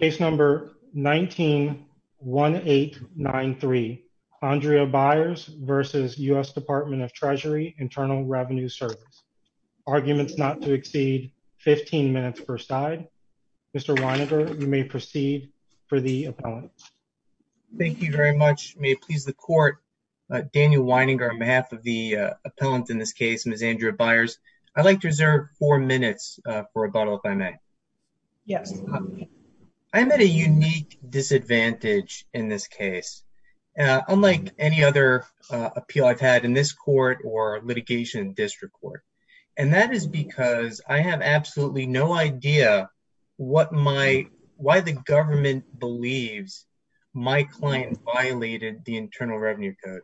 Case number 19-1893. Andrea Byers versus U.S. Department of Treasury Internal Revenue Service. Arguments not to exceed 15 minutes per side. Mr. Weininger, you may proceed for the appellant. Thank you very much. May it please the court, Daniel Weininger, on behalf of the appellant in this case, Ms. Andrea Byers, I'd like to reserve four minutes for rebuttal, if I may. Yes. I'm at a unique disadvantage in this case, unlike any other appeal I've had in this court or litigation district court. And that is because I have absolutely no idea why the government believes my client violated the Internal Revenue Code.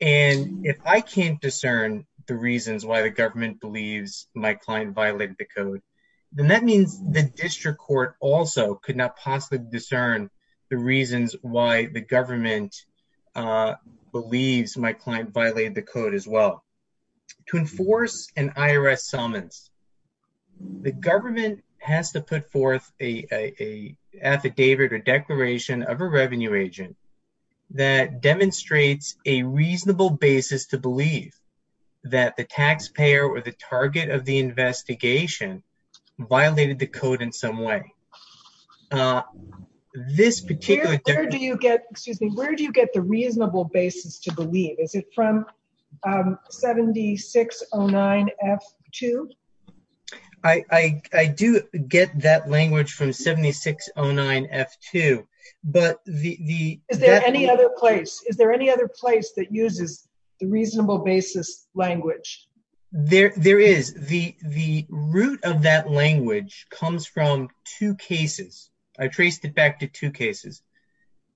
And if I can't discern the reasons why the the district court also could not possibly discern the reasons why the government believes my client violated the code as well. To enforce an IRS summons, the government has to put forth a affidavit or declaration of a revenue agent that demonstrates a reasonable basis to in some way. Where do you get the reasonable basis to believe? Is it from 7609F2? I do get that language from 7609F2. Is there any other place that uses the reasonable basis language? There is. The root of that language comes from two cases. I traced it back to two cases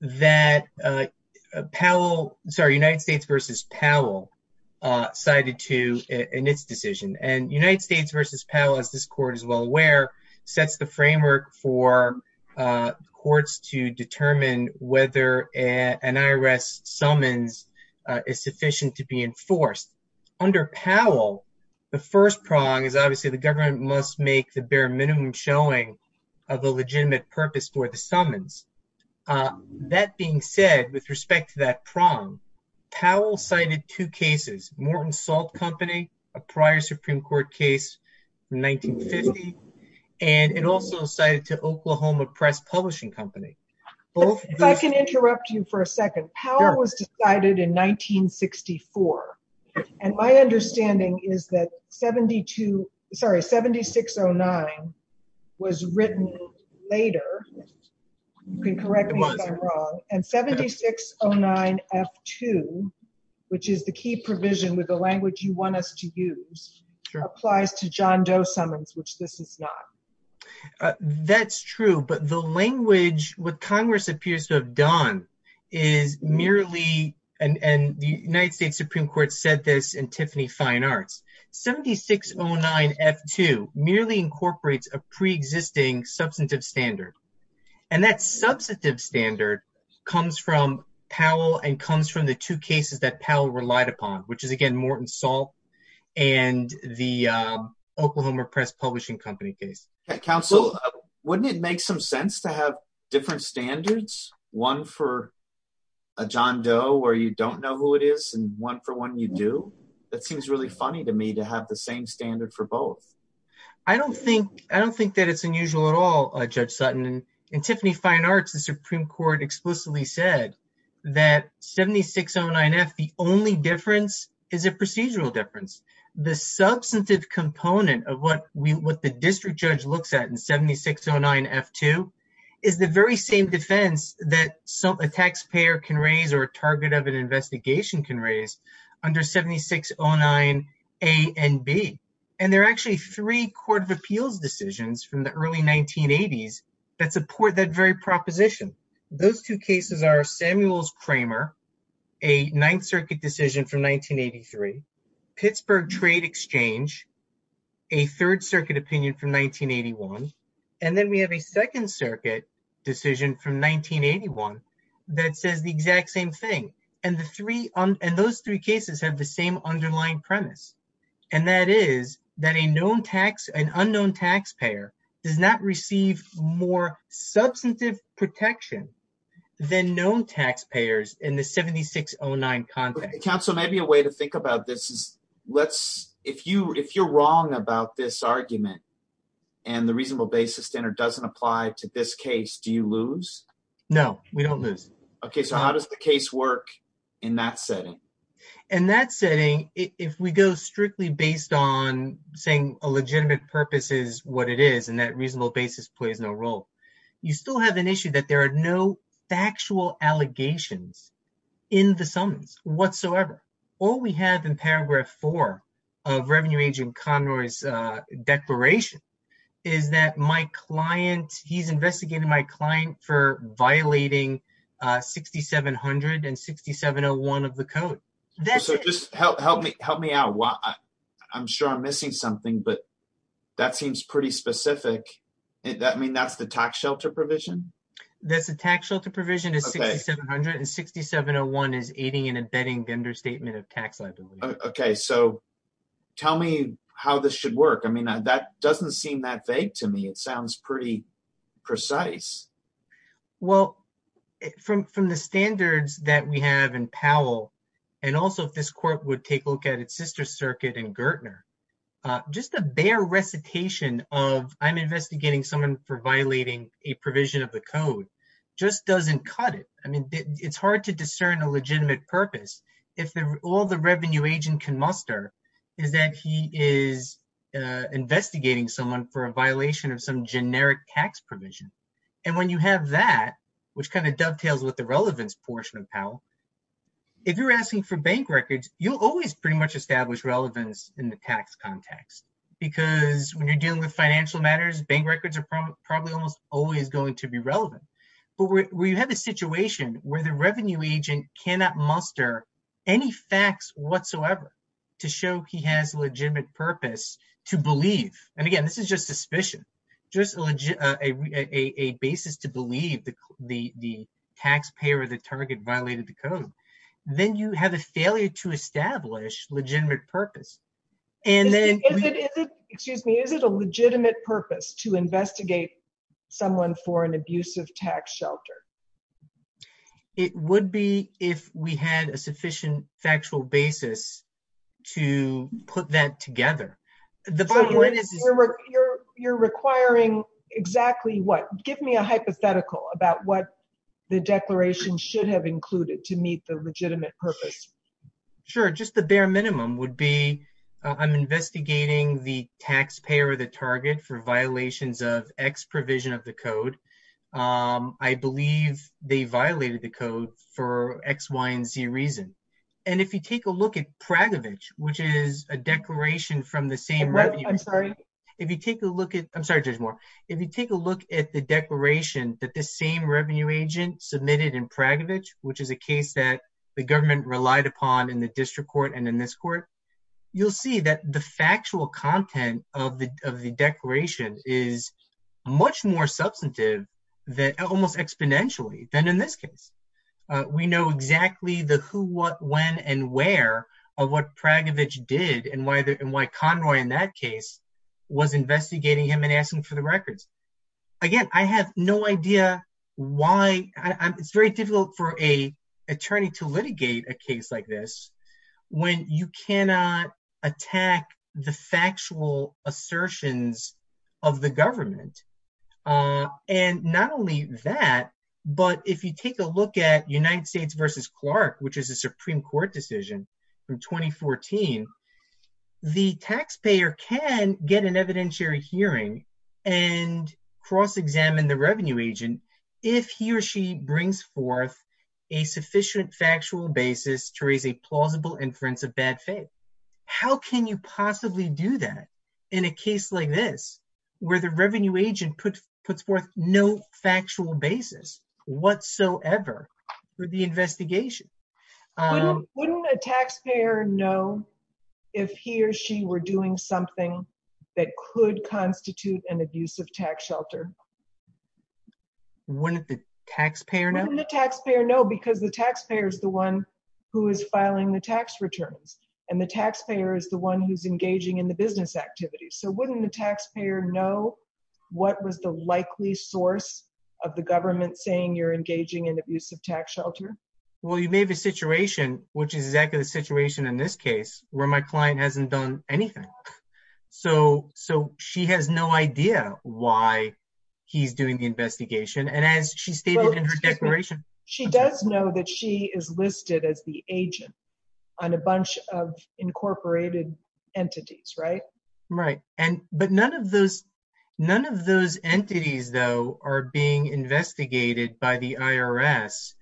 that United States v. Powell cited to in its decision. And United States v. Powell, as this court is well aware, sets the framework for courts to determine whether an IRS summons is sufficient to be enforced. Under Powell, the first prong is obviously the government must make the bare minimum showing of a legitimate purpose for the summons. That being said, with respect to that prong, Powell cited two cases, Morton Salt Company, a prior Supreme Court case from 1950, and it also cited to Oklahoma Press Publishing Company. If I can interrupt you for a second, Powell was decided in 1964. And my understanding is that 7609 was written later. You can correct me if I'm wrong. And 7609F2, which is the key provision with the language you want us to use, applies to John Doe summons, which this is not. That's true. But the language, what Congress appears to have done is merely, and the United States Supreme Court said this in Tiffany Fine Arts, 7609F2 merely incorporates a pre-existing substantive standard. And that substantive standard comes from Powell and comes from the two cases that Powell relied upon, which is again, Morton Salt and the Oklahoma Press Publishing Company case. Counsel, wouldn't it make some standards, one for a John Doe where you don't know who it is and one for one you do? That seems really funny to me to have the same standard for both. I don't think that it's unusual at all, Judge Sutton. In Tiffany Fine Arts, the Supreme Court explicitly said that 7609F, the only difference is a procedural difference. The substantive component of what the district judge looks at in 7609F2 is the very same defense that a taxpayer can raise or a target of an investigation can raise under 7609A and B. And there are actually three Court of Appeals decisions from the early 1980s that support that very proposition. Those two cases are Samuel's Kramer, a Ninth Circuit decision from 1983, Pittsburgh Trade Exchange, a Third Circuit opinion from 1981, and then we have a Second Circuit decision from 1981 that says the exact same thing. And those three cases have the same underlying premise. And that is that an unknown taxpayer does not receive more substantive protection than known taxpayers in the 7609 context. Counsel, maybe a way to think about this is if you're wrong about this argument and the reasonable basis standard doesn't apply to this case, do you lose? No, we don't lose. Okay, so how does the case work in that setting? In that setting, if we go strictly based on saying a legitimate purpose is what it is and reasonable basis plays no role, you still have an issue that there are no factual allegations in the summons whatsoever. All we have in paragraph four of Revenue Agent Conroy's declaration is that he's investigating my client for violating 6700 and 6701 of the code. So just help me out. I'm sure I'm missing something, but that seems pretty specific. I mean, that's the tax shelter provision? That's the tax shelter provision is 6700, and 6701 is aiding and abetting the understatement of tax liability. Okay, so tell me how this should work. I mean, that doesn't seem that vague to me. It sounds pretty precise. Well, from the standards that we have in Powell, and also if this court would take a look at its sister circuit in Gertner, just a bare recitation of I'm investigating someone for violating a provision of the code just doesn't cut it. I mean, it's hard to discern a legitimate purpose if all the revenue agent can muster is that he is investigating someone for a violation of some generic tax provision. And when you have that, which kind of dovetails with the relevance portion of Powell, if you're asking for bank records, you'll always pretty much establish relevance in the tax context. Because when you're dealing with financial matters, bank records are probably almost always going to be relevant. But we have a situation where the revenue agent cannot muster any facts whatsoever to show he has legitimate purpose to believe. And again, this is just suspicion, just a basis to believe the taxpayer or the target violated the code, then you have a failure to establish legitimate purpose. And then... Excuse me, is it a legitimate purpose to investigate someone for an abusive tax shelter? It would be if we had a sufficient factual basis to put that together. You're requiring exactly what? Give me a hypothetical about what the declaration should have included to meet the legitimate purpose. Sure, just the bare minimum would be, I'm investigating the taxpayer or the target for violations of X provision of the code. I believe they violated the code for X, Y, and Z reason. And if you take a look at Praguevich, which is a declaration from the same revenue... I'm sorry. If you take a look at... I'm sorry, Judge Moore. If you take a look at the declaration that the same revenue agent submitted in Praguevich, which is a case that the government relied upon in the district court and in this court, you'll see that the factual content of the declaration is much more substantive almost exponentially than in this case. We know exactly the who, what, when, and where of what Praguevich did and why Conroy in that case was investigating him and asking for the records. Again, I have no idea why... It's very difficult for an attorney to litigate a case like this when you cannot attack the factual assertions of the government. And not only that, but if you take a look at United States versus Clark, which is a Supreme Court decision from 2014, the taxpayer can get an evidentiary hearing and cross-examine the revenue agent if he or she brings forth a plausible inference of bad faith. How can you possibly do that in a case like this where the revenue agent puts forth no factual basis whatsoever for the investigation? Wouldn't a taxpayer know if he or she were doing something that could constitute an abusive tax shelter? Wouldn't the taxpayer know? Because the taxpayer is the one who is filing the tax returns and the taxpayer is the one who's engaging in the business activities. So wouldn't the taxpayer know what was the likely source of the government saying you're engaging in abusive tax shelter? Well, you may have a situation, which is exactly the situation in this case, where my client hasn't done anything. So she has no idea why he's doing the investigation. And as she stated in her declaration... She does know that she is listed as the agent on a bunch of incorporated entities, right? Right. But none of those entities, though, are being investigated by the IRS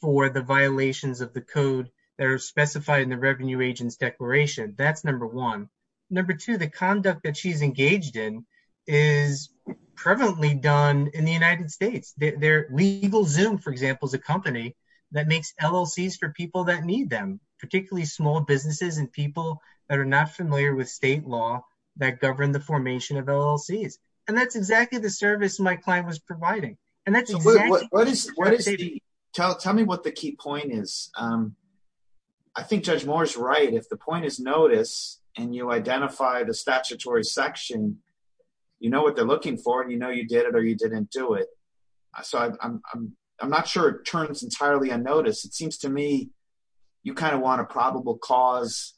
for the violations of the code that are specified in the revenue agent's declaration. That's number one. Number two, the conduct that she's engaged in is prevalently done in the United States. LegalZoom, for example, is a company that makes LLCs for people that need them, particularly small businesses and people that are not familiar with state law that govern the formation of LLCs. And that's exactly the case. I think Judge Moore's right. If the point is notice and you identify the statutory section, you know what they're looking for and you know you did it or you didn't do it. So I'm not sure it turns entirely unnoticed. It seems to me you kind of want a probable cause,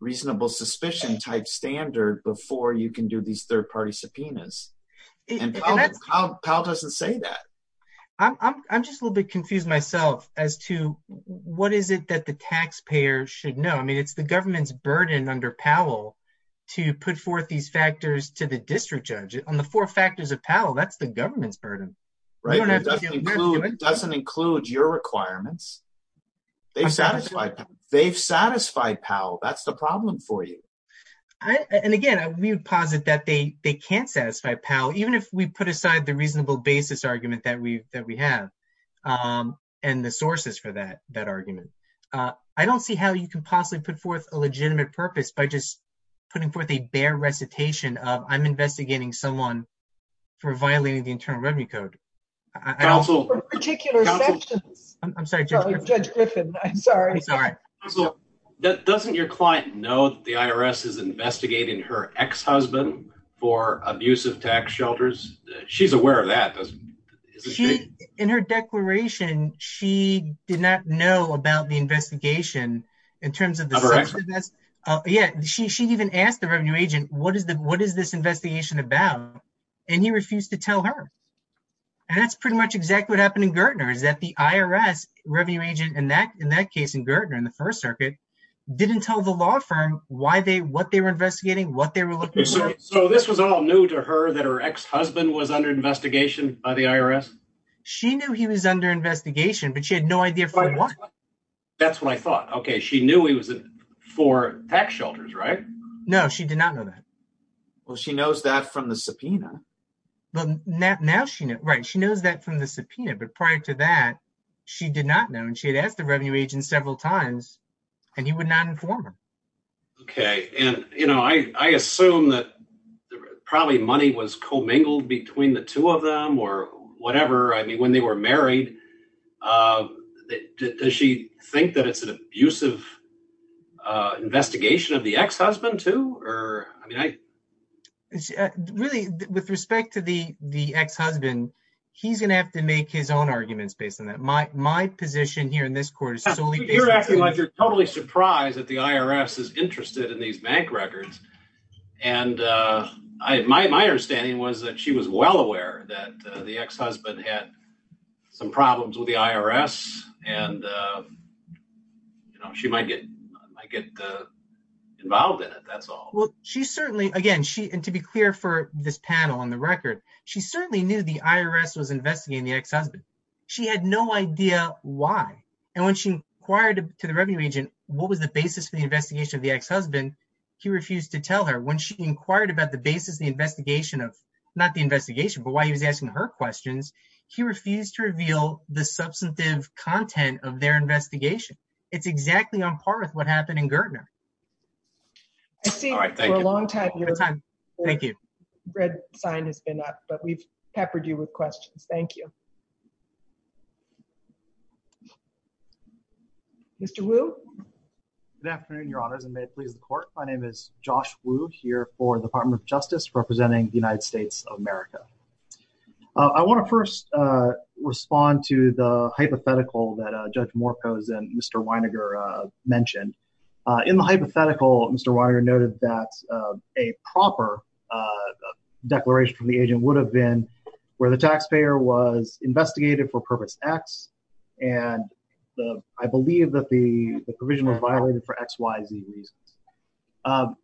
reasonable suspicion type standard before you can do these third party subpoenas. And Powell doesn't say that. I'm just a little bit confused myself as to what is it that the taxpayer should know. I mean, it's the government's burden under Powell to put forth these factors to the district judge on the four factors of Powell. That's the government's burden, right? It doesn't include your requirements. They've satisfied Powell. That's the problem for you. And again, we would posit that they can't satisfy Powell, even if we put aside the reasonable basis argument that we have and the sources for that argument. I don't see how you can possibly put forth a legitimate purpose by just putting forth a bare recitation of I'm investigating someone for violating the Internal Revenue Code. I'm sorry, Judge Griffin. I'm sorry. Also, doesn't your client know that the IRS is investigating her ex-husband for abusive tax shelters? She's aware of that, isn't she? In her declaration, she did not know about the investigation in terms of... Of her ex-husband? Yeah. She even asked the revenue agent, what is this investigation about? And he refused to tell her. And that's pretty much exactly what happened in Gertner is that the IRS revenue agent in that case in Gertner, in the First Circuit, didn't tell the law firm why they, what they were investigating, what they were looking for. So this was all new to her that her ex-husband was under investigation by the IRS? She knew he was under investigation, but she had no idea for what. That's what I thought. Okay. She knew he was for tax shelters, right? No, she did not know that. Well, she knows that from the subpoena. Well, now she knows. Right. She knows that but prior to that, she did not know. And she had asked the revenue agent several times and he would not inform her. Okay. And I assume that probably money was commingled between the two of them or whatever. I mean, when they were married, does she think that it's an abusive investigation of the ex-husband too? I mean, I... Really, with respect to the ex-husband, he's going to have to make his own arguments based on that. My position here in this court is solely based on... You're acting like you're totally surprised that the IRS is interested in these bank records. And my understanding was that she was well aware that the ex-husband had some problems with the IRS and she might get involved in it. That's all. Well, she certainly, again, and to be clear for this panel on the record, she certainly knew the IRS was investigating the ex-husband. She had no idea why. And when she inquired to the revenue agent, what was the basis for the investigation of the ex-husband? He refused to tell her. When she inquired about the basis of the investigation of, not the investigation, but why he was asking her questions, he refused to reveal the substantive content of their investigation. It's exactly on par with what I see. All right. Thank you. For a long time, your red sign has been up, but we've peppered you with questions. Thank you. Mr. Wu? Good afternoon, Your Honors, and may it please the court. My name is Josh Wu here for the Department of Justice representing the United States of America. I want to first respond to the hypothetical that Mr. Weiner noted that a proper declaration from the agent would have been where the taxpayer was investigated for purpose X, and I believe that the provision was violated for X, Y, Z reasons.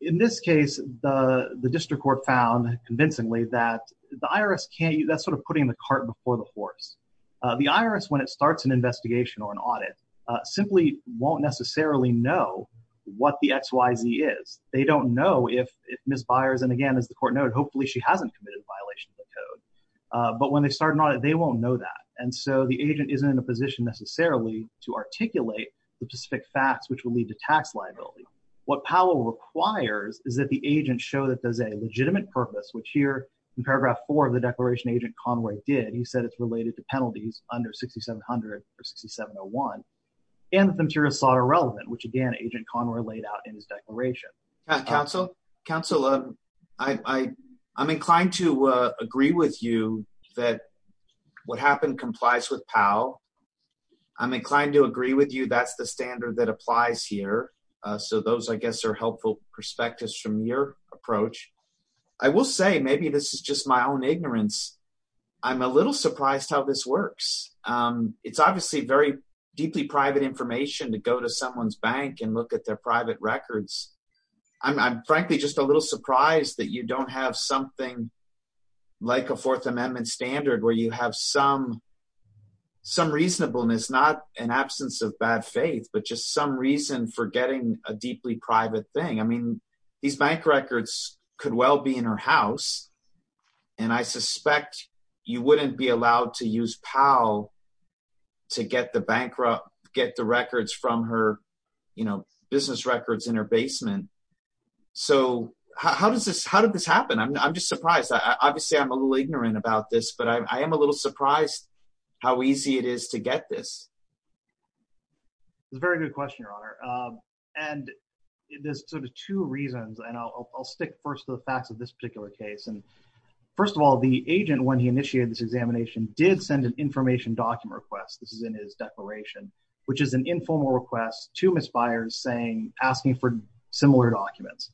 In this case, the district court found convincingly that the IRS can't, that's sort of putting the cart before the horse. The IRS, when it starts an investigation or an audit, simply won't necessarily know what the X, Y, Z is. They don't know if Ms. Byers, and again, as the court noted, hopefully she hasn't committed a violation of the code, but when they start an audit, they won't know that, and so the agent isn't in a position necessarily to articulate the specific facts which will lead to tax liability. What Powell requires is that the agent show that there's a legitimate purpose, which here in paragraph four of the declaration agent Conway did, he said it's related to penalties under 6700 or 6701, and that the material is not irrelevant, which again agent Conway laid out in his declaration. Counsel, I'm inclined to agree with you that what happened complies with Powell. I'm inclined to agree with you that's the standard that applies here, so those I guess are helpful perspectives from your approach. I will say, maybe this is just my own ignorance, I'm a little surprised how this works. It's obviously very deeply private information to go to someone's bank and look at their private records. I'm frankly just a little surprised that you don't have something like a fourth amendment standard where you have some reasonableness, not an absence of bad faith, but just some reason for getting a deeply private thing. I mean, these bank records could well be in her house, and I suspect you wouldn't be allowed to use Powell to get the records from her business records in her basement. So how did this happen? I'm just surprised. Obviously, I'm a little ignorant about this, but I am a little surprised how easy it is to get this. It's a very good question, Your Honor. There's sort of two reasons, and I'll stick first to the facts of this particular case. First of all, the agent, when he initiated this examination, did send an information document request. This is in his declaration, which is an informal request to Ms. Byers asking for similar documents.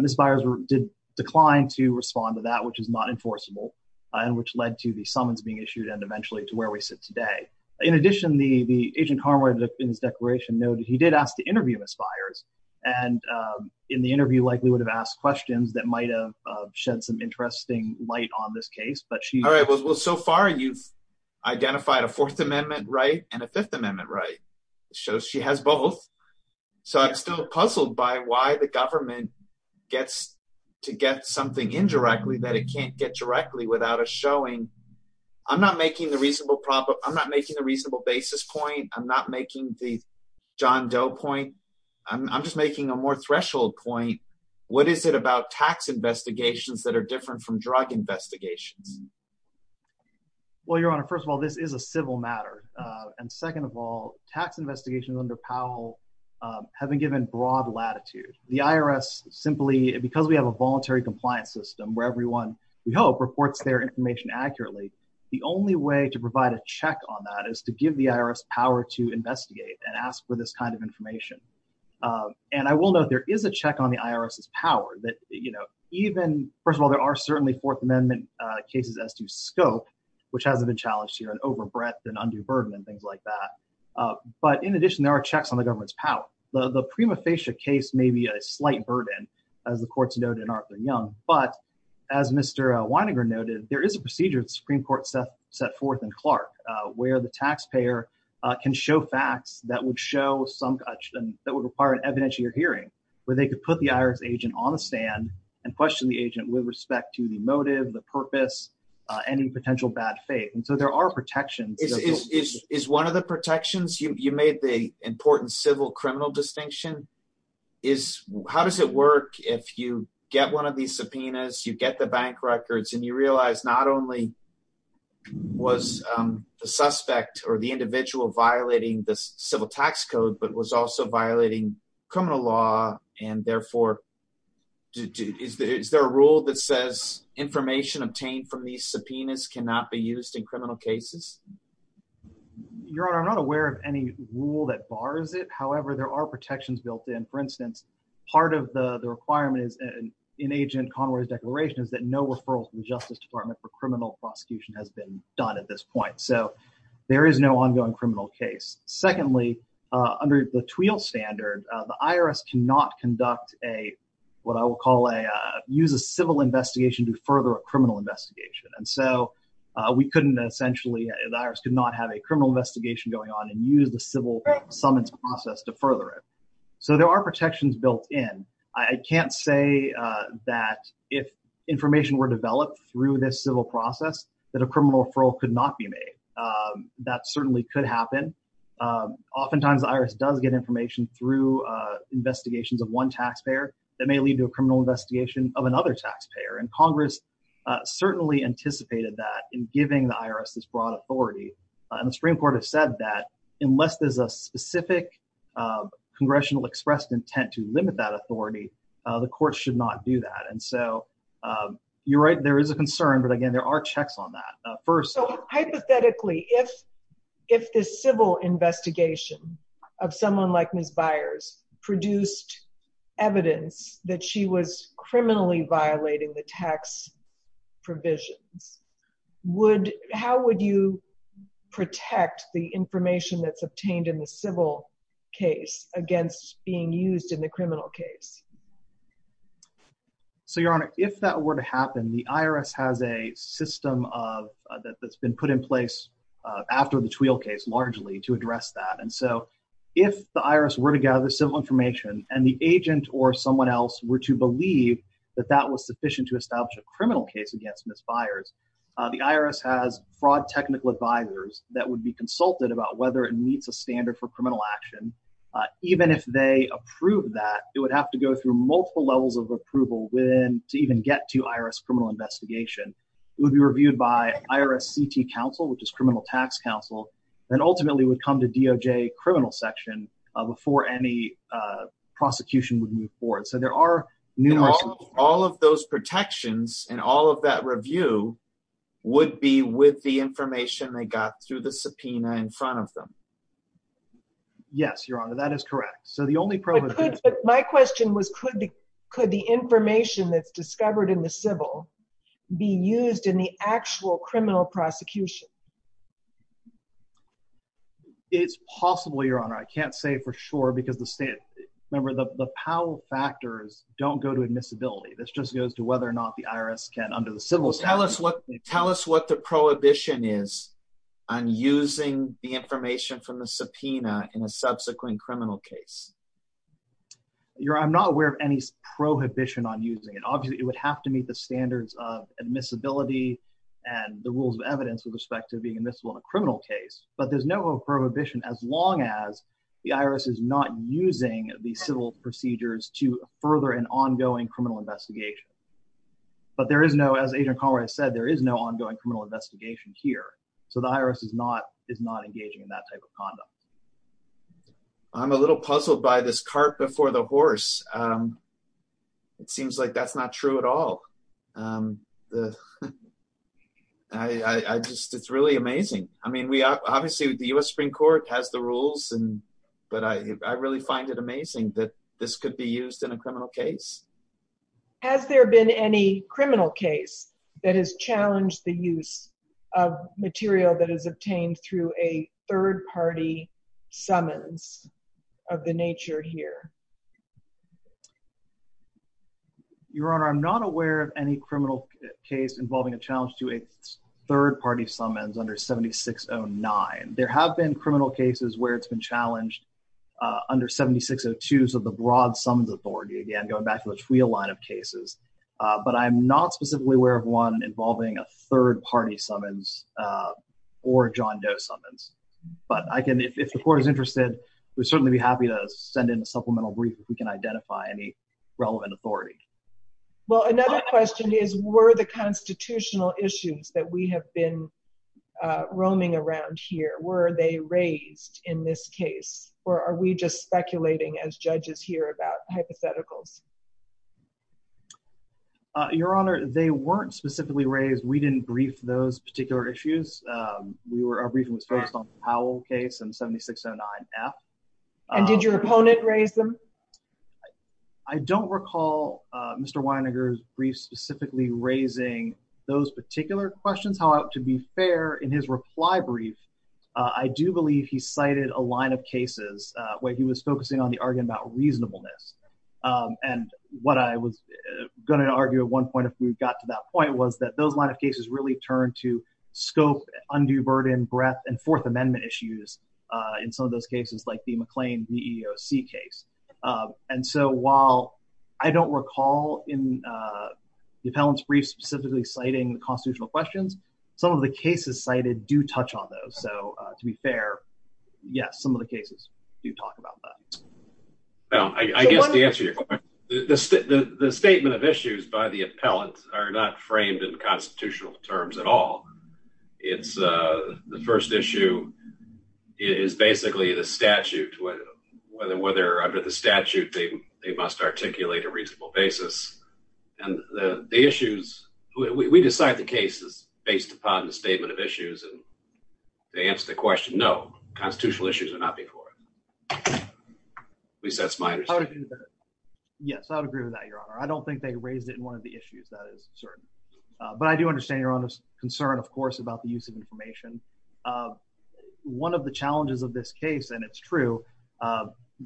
Ms. Byers did decline to respond to that, which is not enforceable, and which led to the summons being issued and eventually to where we sit today. In addition, the agent Harmer in his declaration noted he did ask to interview Ms. Byers, and in the interview likely would have asked questions that might have shed some interesting light on this case. All right. Well, so far you've identified a fourth amendment right and a fifth amendment right. It shows she has both. So I'm still puzzled by why the government gets to get something indirectly that it can't get directly without a showing. I'm not making the reasonable basis point. I'm not making the John Doe point. I'm just making a more threshold point. What is it about tax investigations that are different from drug investigations? Well, Your Honor, first of all, this is a civil matter. And second of all, tax investigations under Powell have been given broad latitude. The IRS simply, because we have a voluntary compliance system where everyone, we hope, reports their information accurately, the only way to provide a check on that is to give the IRS power to investigate and ask for this kind of information. And I will note there is a check on the IRS's power that, you know, even, first of all, there are certainly fourth amendment cases as to scope, which hasn't been but in addition there are checks on the government's power. The prima facie case may be a slight burden as the courts noted in Arthur Young, but as Mr. Weininger noted, there is a procedure the Supreme Court set forth in Clark where the taxpayer can show facts that would show some, that would require an evidentiary hearing where they could put the IRS agent on the stand and question the agent with respect to the motive, the purpose, any potential bad faith. And the important civil criminal distinction is how does it work if you get one of these subpoenas, you get the bank records, and you realize not only was the suspect or the individual violating the civil tax code, but was also violating criminal law and therefore, is there a rule that says information obtained from these subpoenas cannot be used in criminal cases? Your Honor, I'm not aware of any rule that bars it. However, there are protections built in. For instance, part of the requirement is in agent Conway's declaration is that no referral to the Justice Department for criminal prosecution has been done at this point. So, there is no ongoing criminal case. Secondly, under the TWEAL standard, the IRS cannot conduct a, what I will call a, use a civil investigation to further a criminal investigation. And so, we couldn't essentially, the IRS could not have a criminal investigation going on and use the civil summons process to further it. So, there are protections built in. I can't say that if information were developed through this civil process, that a criminal referral could not be made. That certainly could happen. Oftentimes, the IRS does get information through investigations of one taxpayer that may lead to a criminal investigation of another taxpayer. And Congress certainly anticipated that in giving the IRS this broad authority. And the Supreme Court has said that unless there's a specific congressional expressed intent to limit that authority, the courts should not do that. And so, you're right, there is a concern. But again, there are checks on that. First- So, hypothetically, if this civil investigation of someone like Ms. Hax provisions, would, how would you protect the information that's obtained in the civil case against being used in the criminal case? So, Your Honor, if that were to happen, the IRS has a system of, that's been put in place after the TWEAL case, largely, to address that. And so, if the IRS were to gather civil information and the agent or someone else were to believe that that was sufficient to establish a criminal case against Ms. Byers, the IRS has fraud technical advisors that would be consulted about whether it meets a standard for criminal action. Even if they approve that, it would have to go through multiple levels of approval within, to even get to IRS criminal investigation. It would be reviewed by IRS CT counsel, which is criminal tax counsel, and ultimately would come to DOJ criminal section before any prosecution would move forward. So, there are numerous- All of those protections and all of that review would be with the information they got through the subpoena in front of them. Yes, Your Honor, that is correct. So, the only problem- My question was, could the information that's discovered in the civil be used in the actual criminal prosecution? It's possible, Your Honor. I can't say for sure because the state- Remember, the power factors don't go to admissibility. This just goes to whether or not the IRS can, under the civil- Well, tell us what the prohibition is on using the information from the subpoena in a subsequent criminal case. Your Honor, I'm not aware of any prohibition on using it. Obviously, it would have to meet the standards of admissibility and the rules of evidence with respect to being admissible in a criminal case, but there's no prohibition as long as the IRS is not using the civil procedures to further an ongoing criminal investigation. But there is no- As Agent Conroy said, there is no ongoing criminal investigation here. So, the IRS is not engaging in that type of conduct. I'm a little puzzled by this cart before the horse. It seems like that's not true at all. The- I just- It's really amazing. I mean, obviously, the U.S. Supreme Court has the rules, but I really find it amazing that this could be used in a criminal case. Has there been any criminal case that has challenged the use of material that is obtained through a third-party summons of the nature here? Your Honor, I'm not aware of any criminal case involving a challenge to a third-party summons under 7609. There have been criminal cases where it's been challenged under 7602s of the broad summons authority, again, going back to the TRIA line of cases, but I'm not specifically aware of one involving a third-party summons or John Doe summons. But I can- If the Court is interested, we'd certainly be happy to send in a supplemental brief if we can identify any relevant authority. Well, another question is, were the constitutional issues that we have been roaming around here, were they raised in this case, or are we just speculating as judges here about hypotheticals? Your Honor, they weren't specifically raised. We didn't brief those particular issues. We were- Our briefing was focused on the Powell case and 7609-F. And did your opponent raise them? I don't recall Mr. Weininger's brief specifically raising those particular questions. However, to be fair, in his reply brief, I do believe he cited a line of cases where he was focusing on the argument about reasonableness. And what I was going to argue at one point if we got to that point was that those line of cases really turned to scope, undue burden, breadth, and Fourth Amendment issues in some of those cases, like the McLean VEOC case. And so, while I don't recall in the appellant's brief specifically citing the constitutional questions, some of the cases cited do touch on those. So, to be fair, yes, some of the cases do talk about that. Well, I guess to answer your question, the statement of issues by the appellant are not whether under the statute they must articulate a reasonable basis. And the issues- We decide the cases based upon the statement of issues. And to answer the question, no, constitutional issues are not before us. At least that's my understanding. Yes, I would agree with that, Your Honor. I don't think they raised it in one of the issues. That is certain. But I do understand Your Honor's concern, of course, about the use of information. One of the challenges of this case, and it's true,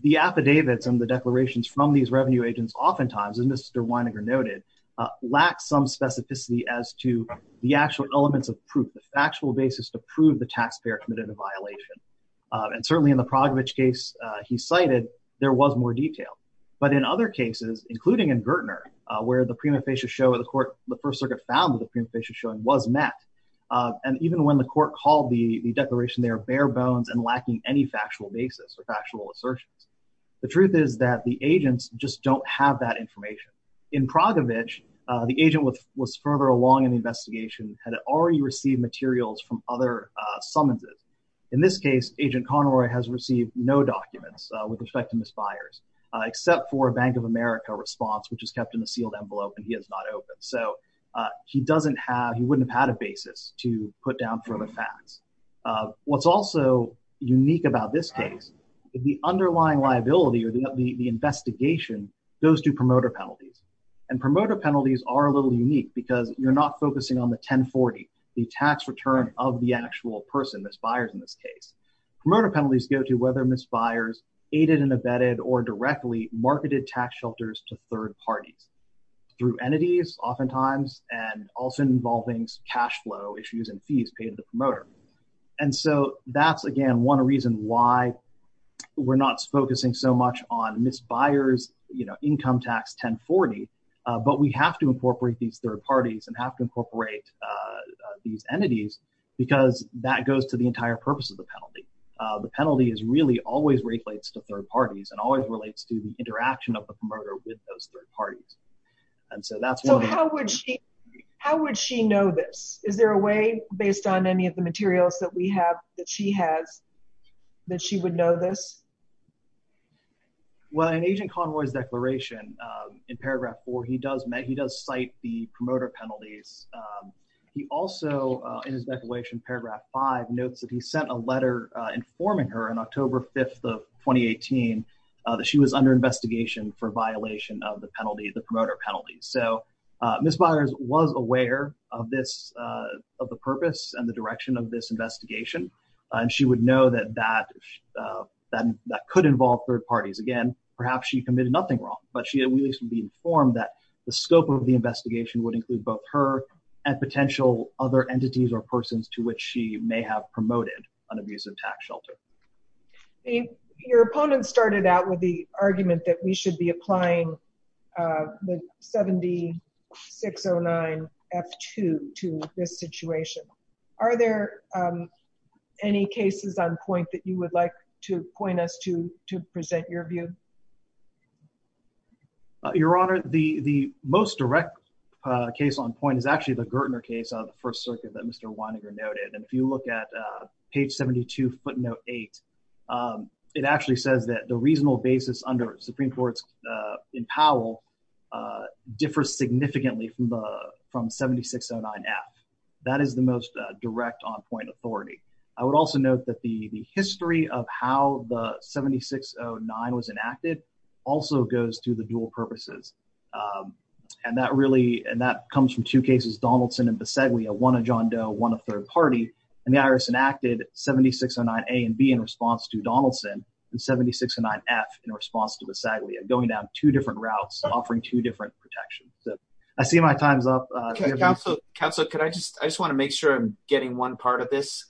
the affidavits and the declarations from these revenue agents oftentimes, as Mr. Weininger noted, lack some specificity as to the actual elements of proof, the factual basis to prove the taxpayer committed a violation. And certainly in the Progovich case he cited, there was more detail. But in other cases, including in Gertner, where the prima facie show of the court, the First Circuit found that the prima facie showing was met. And even when the court called the declaration, they are bare bones and lacking any factual basis or factual assertions. The truth is that the agents just don't have that information. In Progovich, the agent was further along in the investigation had already received materials from other summonses. In this case, Agent Conroy has received no documents with respect to misfires, except for a Bank of He doesn't have, he wouldn't have had a basis to put down for the facts. What's also unique about this case, the underlying liability or the investigation goes to promoter penalties. And promoter penalties are a little unique because you're not focusing on the 1040, the tax return of the actual person, misfires in this case. Promoter penalties go to whether misfires aided and abetted or directly marketed tax shelters to third parties. Through entities, oftentimes, and also involving cashflow issues and fees paid to the promoter. And so that's, again, one reason why we're not focusing so much on misfires, you know, income tax 1040. But we have to incorporate these third parties and have to incorporate these entities, because that goes to the entire purpose of the penalty. The penalty is really always relates to third parties and always relates to the interaction of the promoter with those parties. And so that's how would she, how would she know this? Is there a way based on any of the materials that we have that she has, that she would know this? Well, an agent convoys declaration in paragraph four, he does make he does cite the promoter penalties. He also in his declaration, paragraph five notes that he sent a letter informing her on October 5th of 2018, that she was under investigation for violation of the penalty, the promoter penalties. So misfires was aware of this, of the purpose and the direction of this investigation. And she would know that that that could involve third parties. Again, perhaps she committed nothing wrong, but she at least would be informed that the scope of the investigation would include both her and potential other entities or persons to which she may have promoted an abusive tax shelter. Your opponent started out with the argument that we should be applying the 7609 F2 to this situation. Are there any cases on point that you would like to point us to, to present your view? Your Honor, the most direct case on point is actually the Gertner case on the first circuit that Mr. Weininger noted. And if you look at page 72 footnote eight, it actually says that the reasonable basis under Supreme Court in Powell differs significantly from the, from 7609 F. That is the most direct on point authority. I would also note that the history of how the 7609 was enacted also goes through the dual purposes. And that really, and that comes from two cases, Donaldson and Visaglia, one of John Doe, one of third party and the IRS enacted 7609 A and B in response to Donaldson and 7609 F in response to Visaglia going down two different routes, offering two different protections. So I see my time's up. Counselor, could I just, I just want to make sure I'm getting one part of this.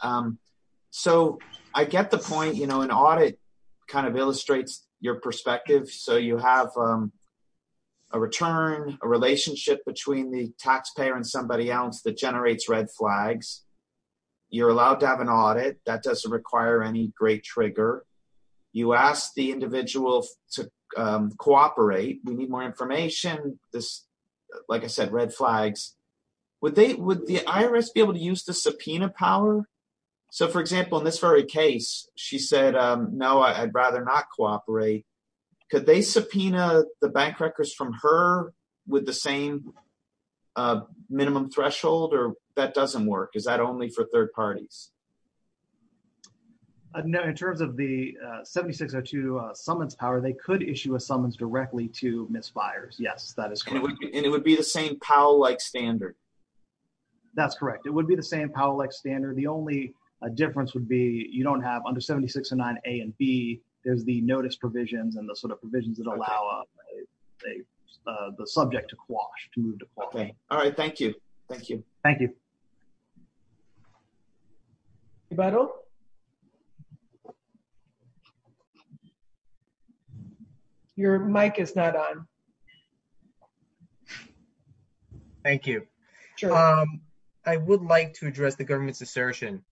So I get the point, an audit kind of illustrates your perspective. So you have a return, a relationship between the taxpayer and somebody else that generates red flags. You're allowed to have an audit that doesn't require any great trigger. You ask the individual to cooperate. We need more information. This, like I said, red flags, would they, would the IRS be able to use the subpoena power? So for example, in this very case, she said, no, I'd rather not cooperate. Could they subpoena the bank records from her with the same minimum threshold or that doesn't work? Is that only for third parties? In terms of the 7602 summons power, they could issue a summons directly to misfires. Yes, that is correct. And it would be the same Powell-like standard. That's correct. It would be the same Powell-like standard. The only difference would be you don't have under 7609 A and B, there's the notice provisions and the sort of provisions that allow the subject to quash, to move to quash. All right. Thank you. Thank you. Thank you. Eberl? Your mic is not on. Thank you. I would like to address the government's assertion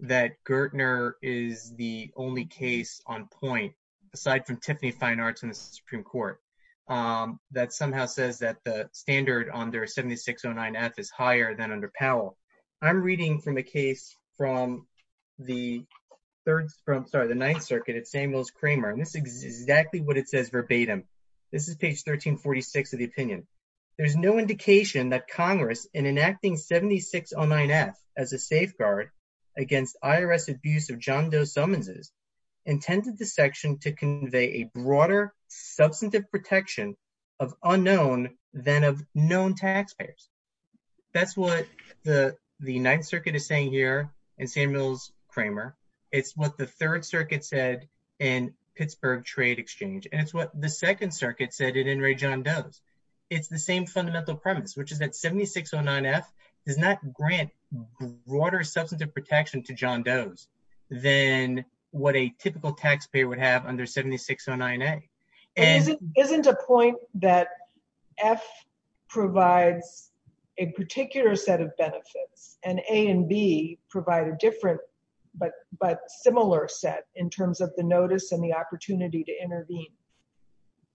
that Gertner is the only case on point, aside from Tiffany Fine Arts in the Supreme Court, that somehow says that the standard under 7609 F is higher than under Powell. I'm reading from a case from the 9th circuit at Samuels Kramer. This is exactly what it says verbatim. This is page 1346 of the opinion. There's no indication that Congress, in enacting 7609 F as a safeguard against IRS abuse of John Doe summonses, intended the section to convey a broader substantive protection of unknown than of known taxpayers. That's what the 9th circuit is saying here in Samuels Kramer. It's what the 3rd circuit said in Pittsburgh Trade Exchange, and it's what the 2nd circuit said in Ray John Doe's. It's the same fundamental premise, which is that 7609 F does not grant broader substantive protection to John Doe's than what a typical taxpayer would have under 7609 A. Isn't a point that F provides a particular set of benefits, and A and B provide a different, but similar set in terms of the notice and the opportunity to intervene?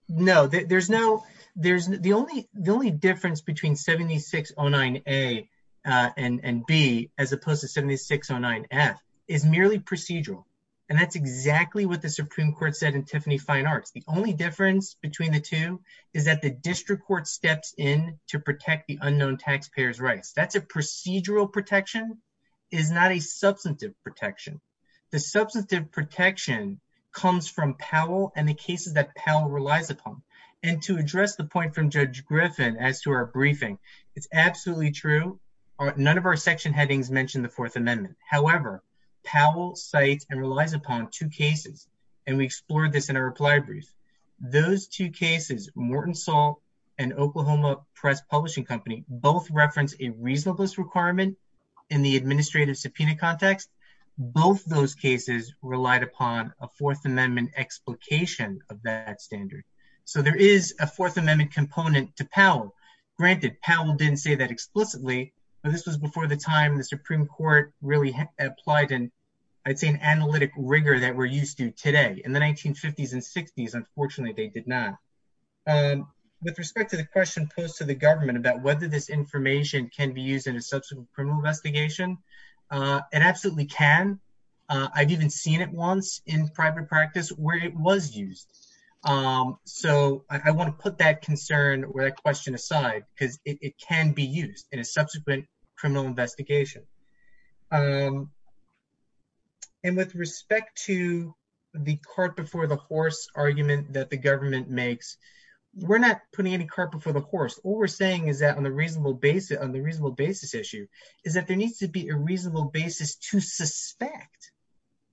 No. The only difference between 7609 A and B, as opposed to 7609 F, is merely procedural, and that's exactly what the Supreme Court said in Tiffany Fine Arts. The only difference between the two is that the district court steps in to protect the unknown taxpayer's rights. That's procedural protection. It's not a substantive protection. The substantive protection comes from Powell and the cases that Powell relies upon, and to address the point from Judge Griffin as to our briefing, it's absolutely true. None of our section headings mention the Fourth Amendment. However, Powell cites and relies upon two cases, and we explored this in our reply brief. Those two cases, Morton Salt and Oklahoma Press Publishing Company, both reference a reasonableness requirement in the administrative subpoena context. Both those cases relied upon a Fourth Amendment explication of that standard, so there is a Fourth Amendment component to Powell. Granted, Powell didn't say that explicitly, but this was before the time the Supreme Court really applied an, I'd say, an analytic rigor that we're used to today. In the 1950s and 60s, unfortunately, they did not. With respect to the question posed to the government about whether this information can be used in a subsequent criminal investigation, it absolutely can. I've even seen it once in private practice where it was used, so I want to put that concern or that question aside because it can be used in a subsequent criminal investigation. With respect to the cart before the horse argument that the government makes, we're not putting any cart before the horse. What we're saying is that on the reasonable basis issue is that there needs to be a reasonable basis to suspect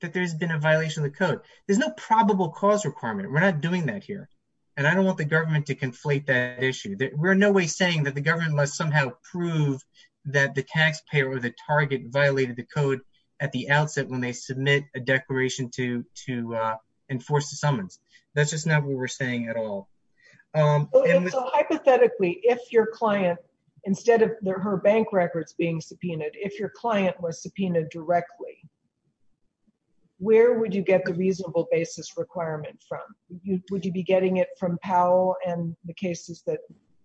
that there's been a violation of the code. There's no probable cause requirement. We're not doing that here, and I don't want the government to conflate that issue. We're in no way saying that the government must somehow prove that the taxpayer or the target violated the code at the outset when they submit a declaration to enforce the summons. That's just not what we're saying at all. Hypothetically, if your client, instead of her bank records being subpoenaed, if your client was subpoenaed directly, where would you get the reasonable basis requirement from? Would you be it from Powell and the cases that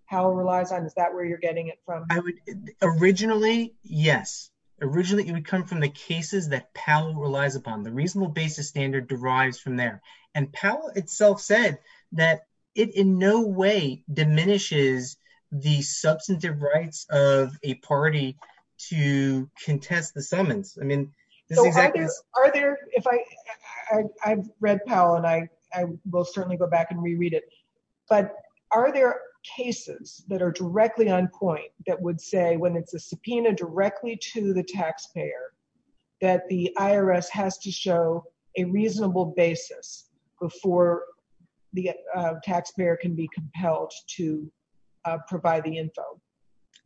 Powell relies on? Is that where you're getting it from? Originally, yes. Originally, it would come from the cases that Powell relies upon. The reasonable basis standard derives from there, and Powell itself said that it in no way diminishes the substantive rights of a party to contest the summons. I've read Powell, and I will certainly go back and reread it, but are there cases that are directly on point that would say when it's a subpoena directly to the taxpayer that the IRS has to show a reasonable basis before the taxpayer can be compelled to provide the info?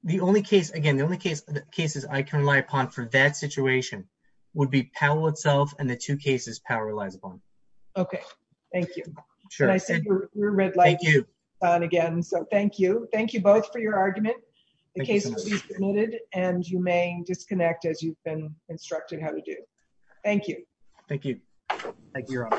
The only case, again, the only cases I can rely upon for that situation would be Powell itself and the two cases Powell relies upon. Okay. Thank you. Sure. Thank you. Thank you. Thank you both for your argument. The case will be submitted, and you may disconnect as you've been instructed how to do. Thank you. Thank you. Thank you.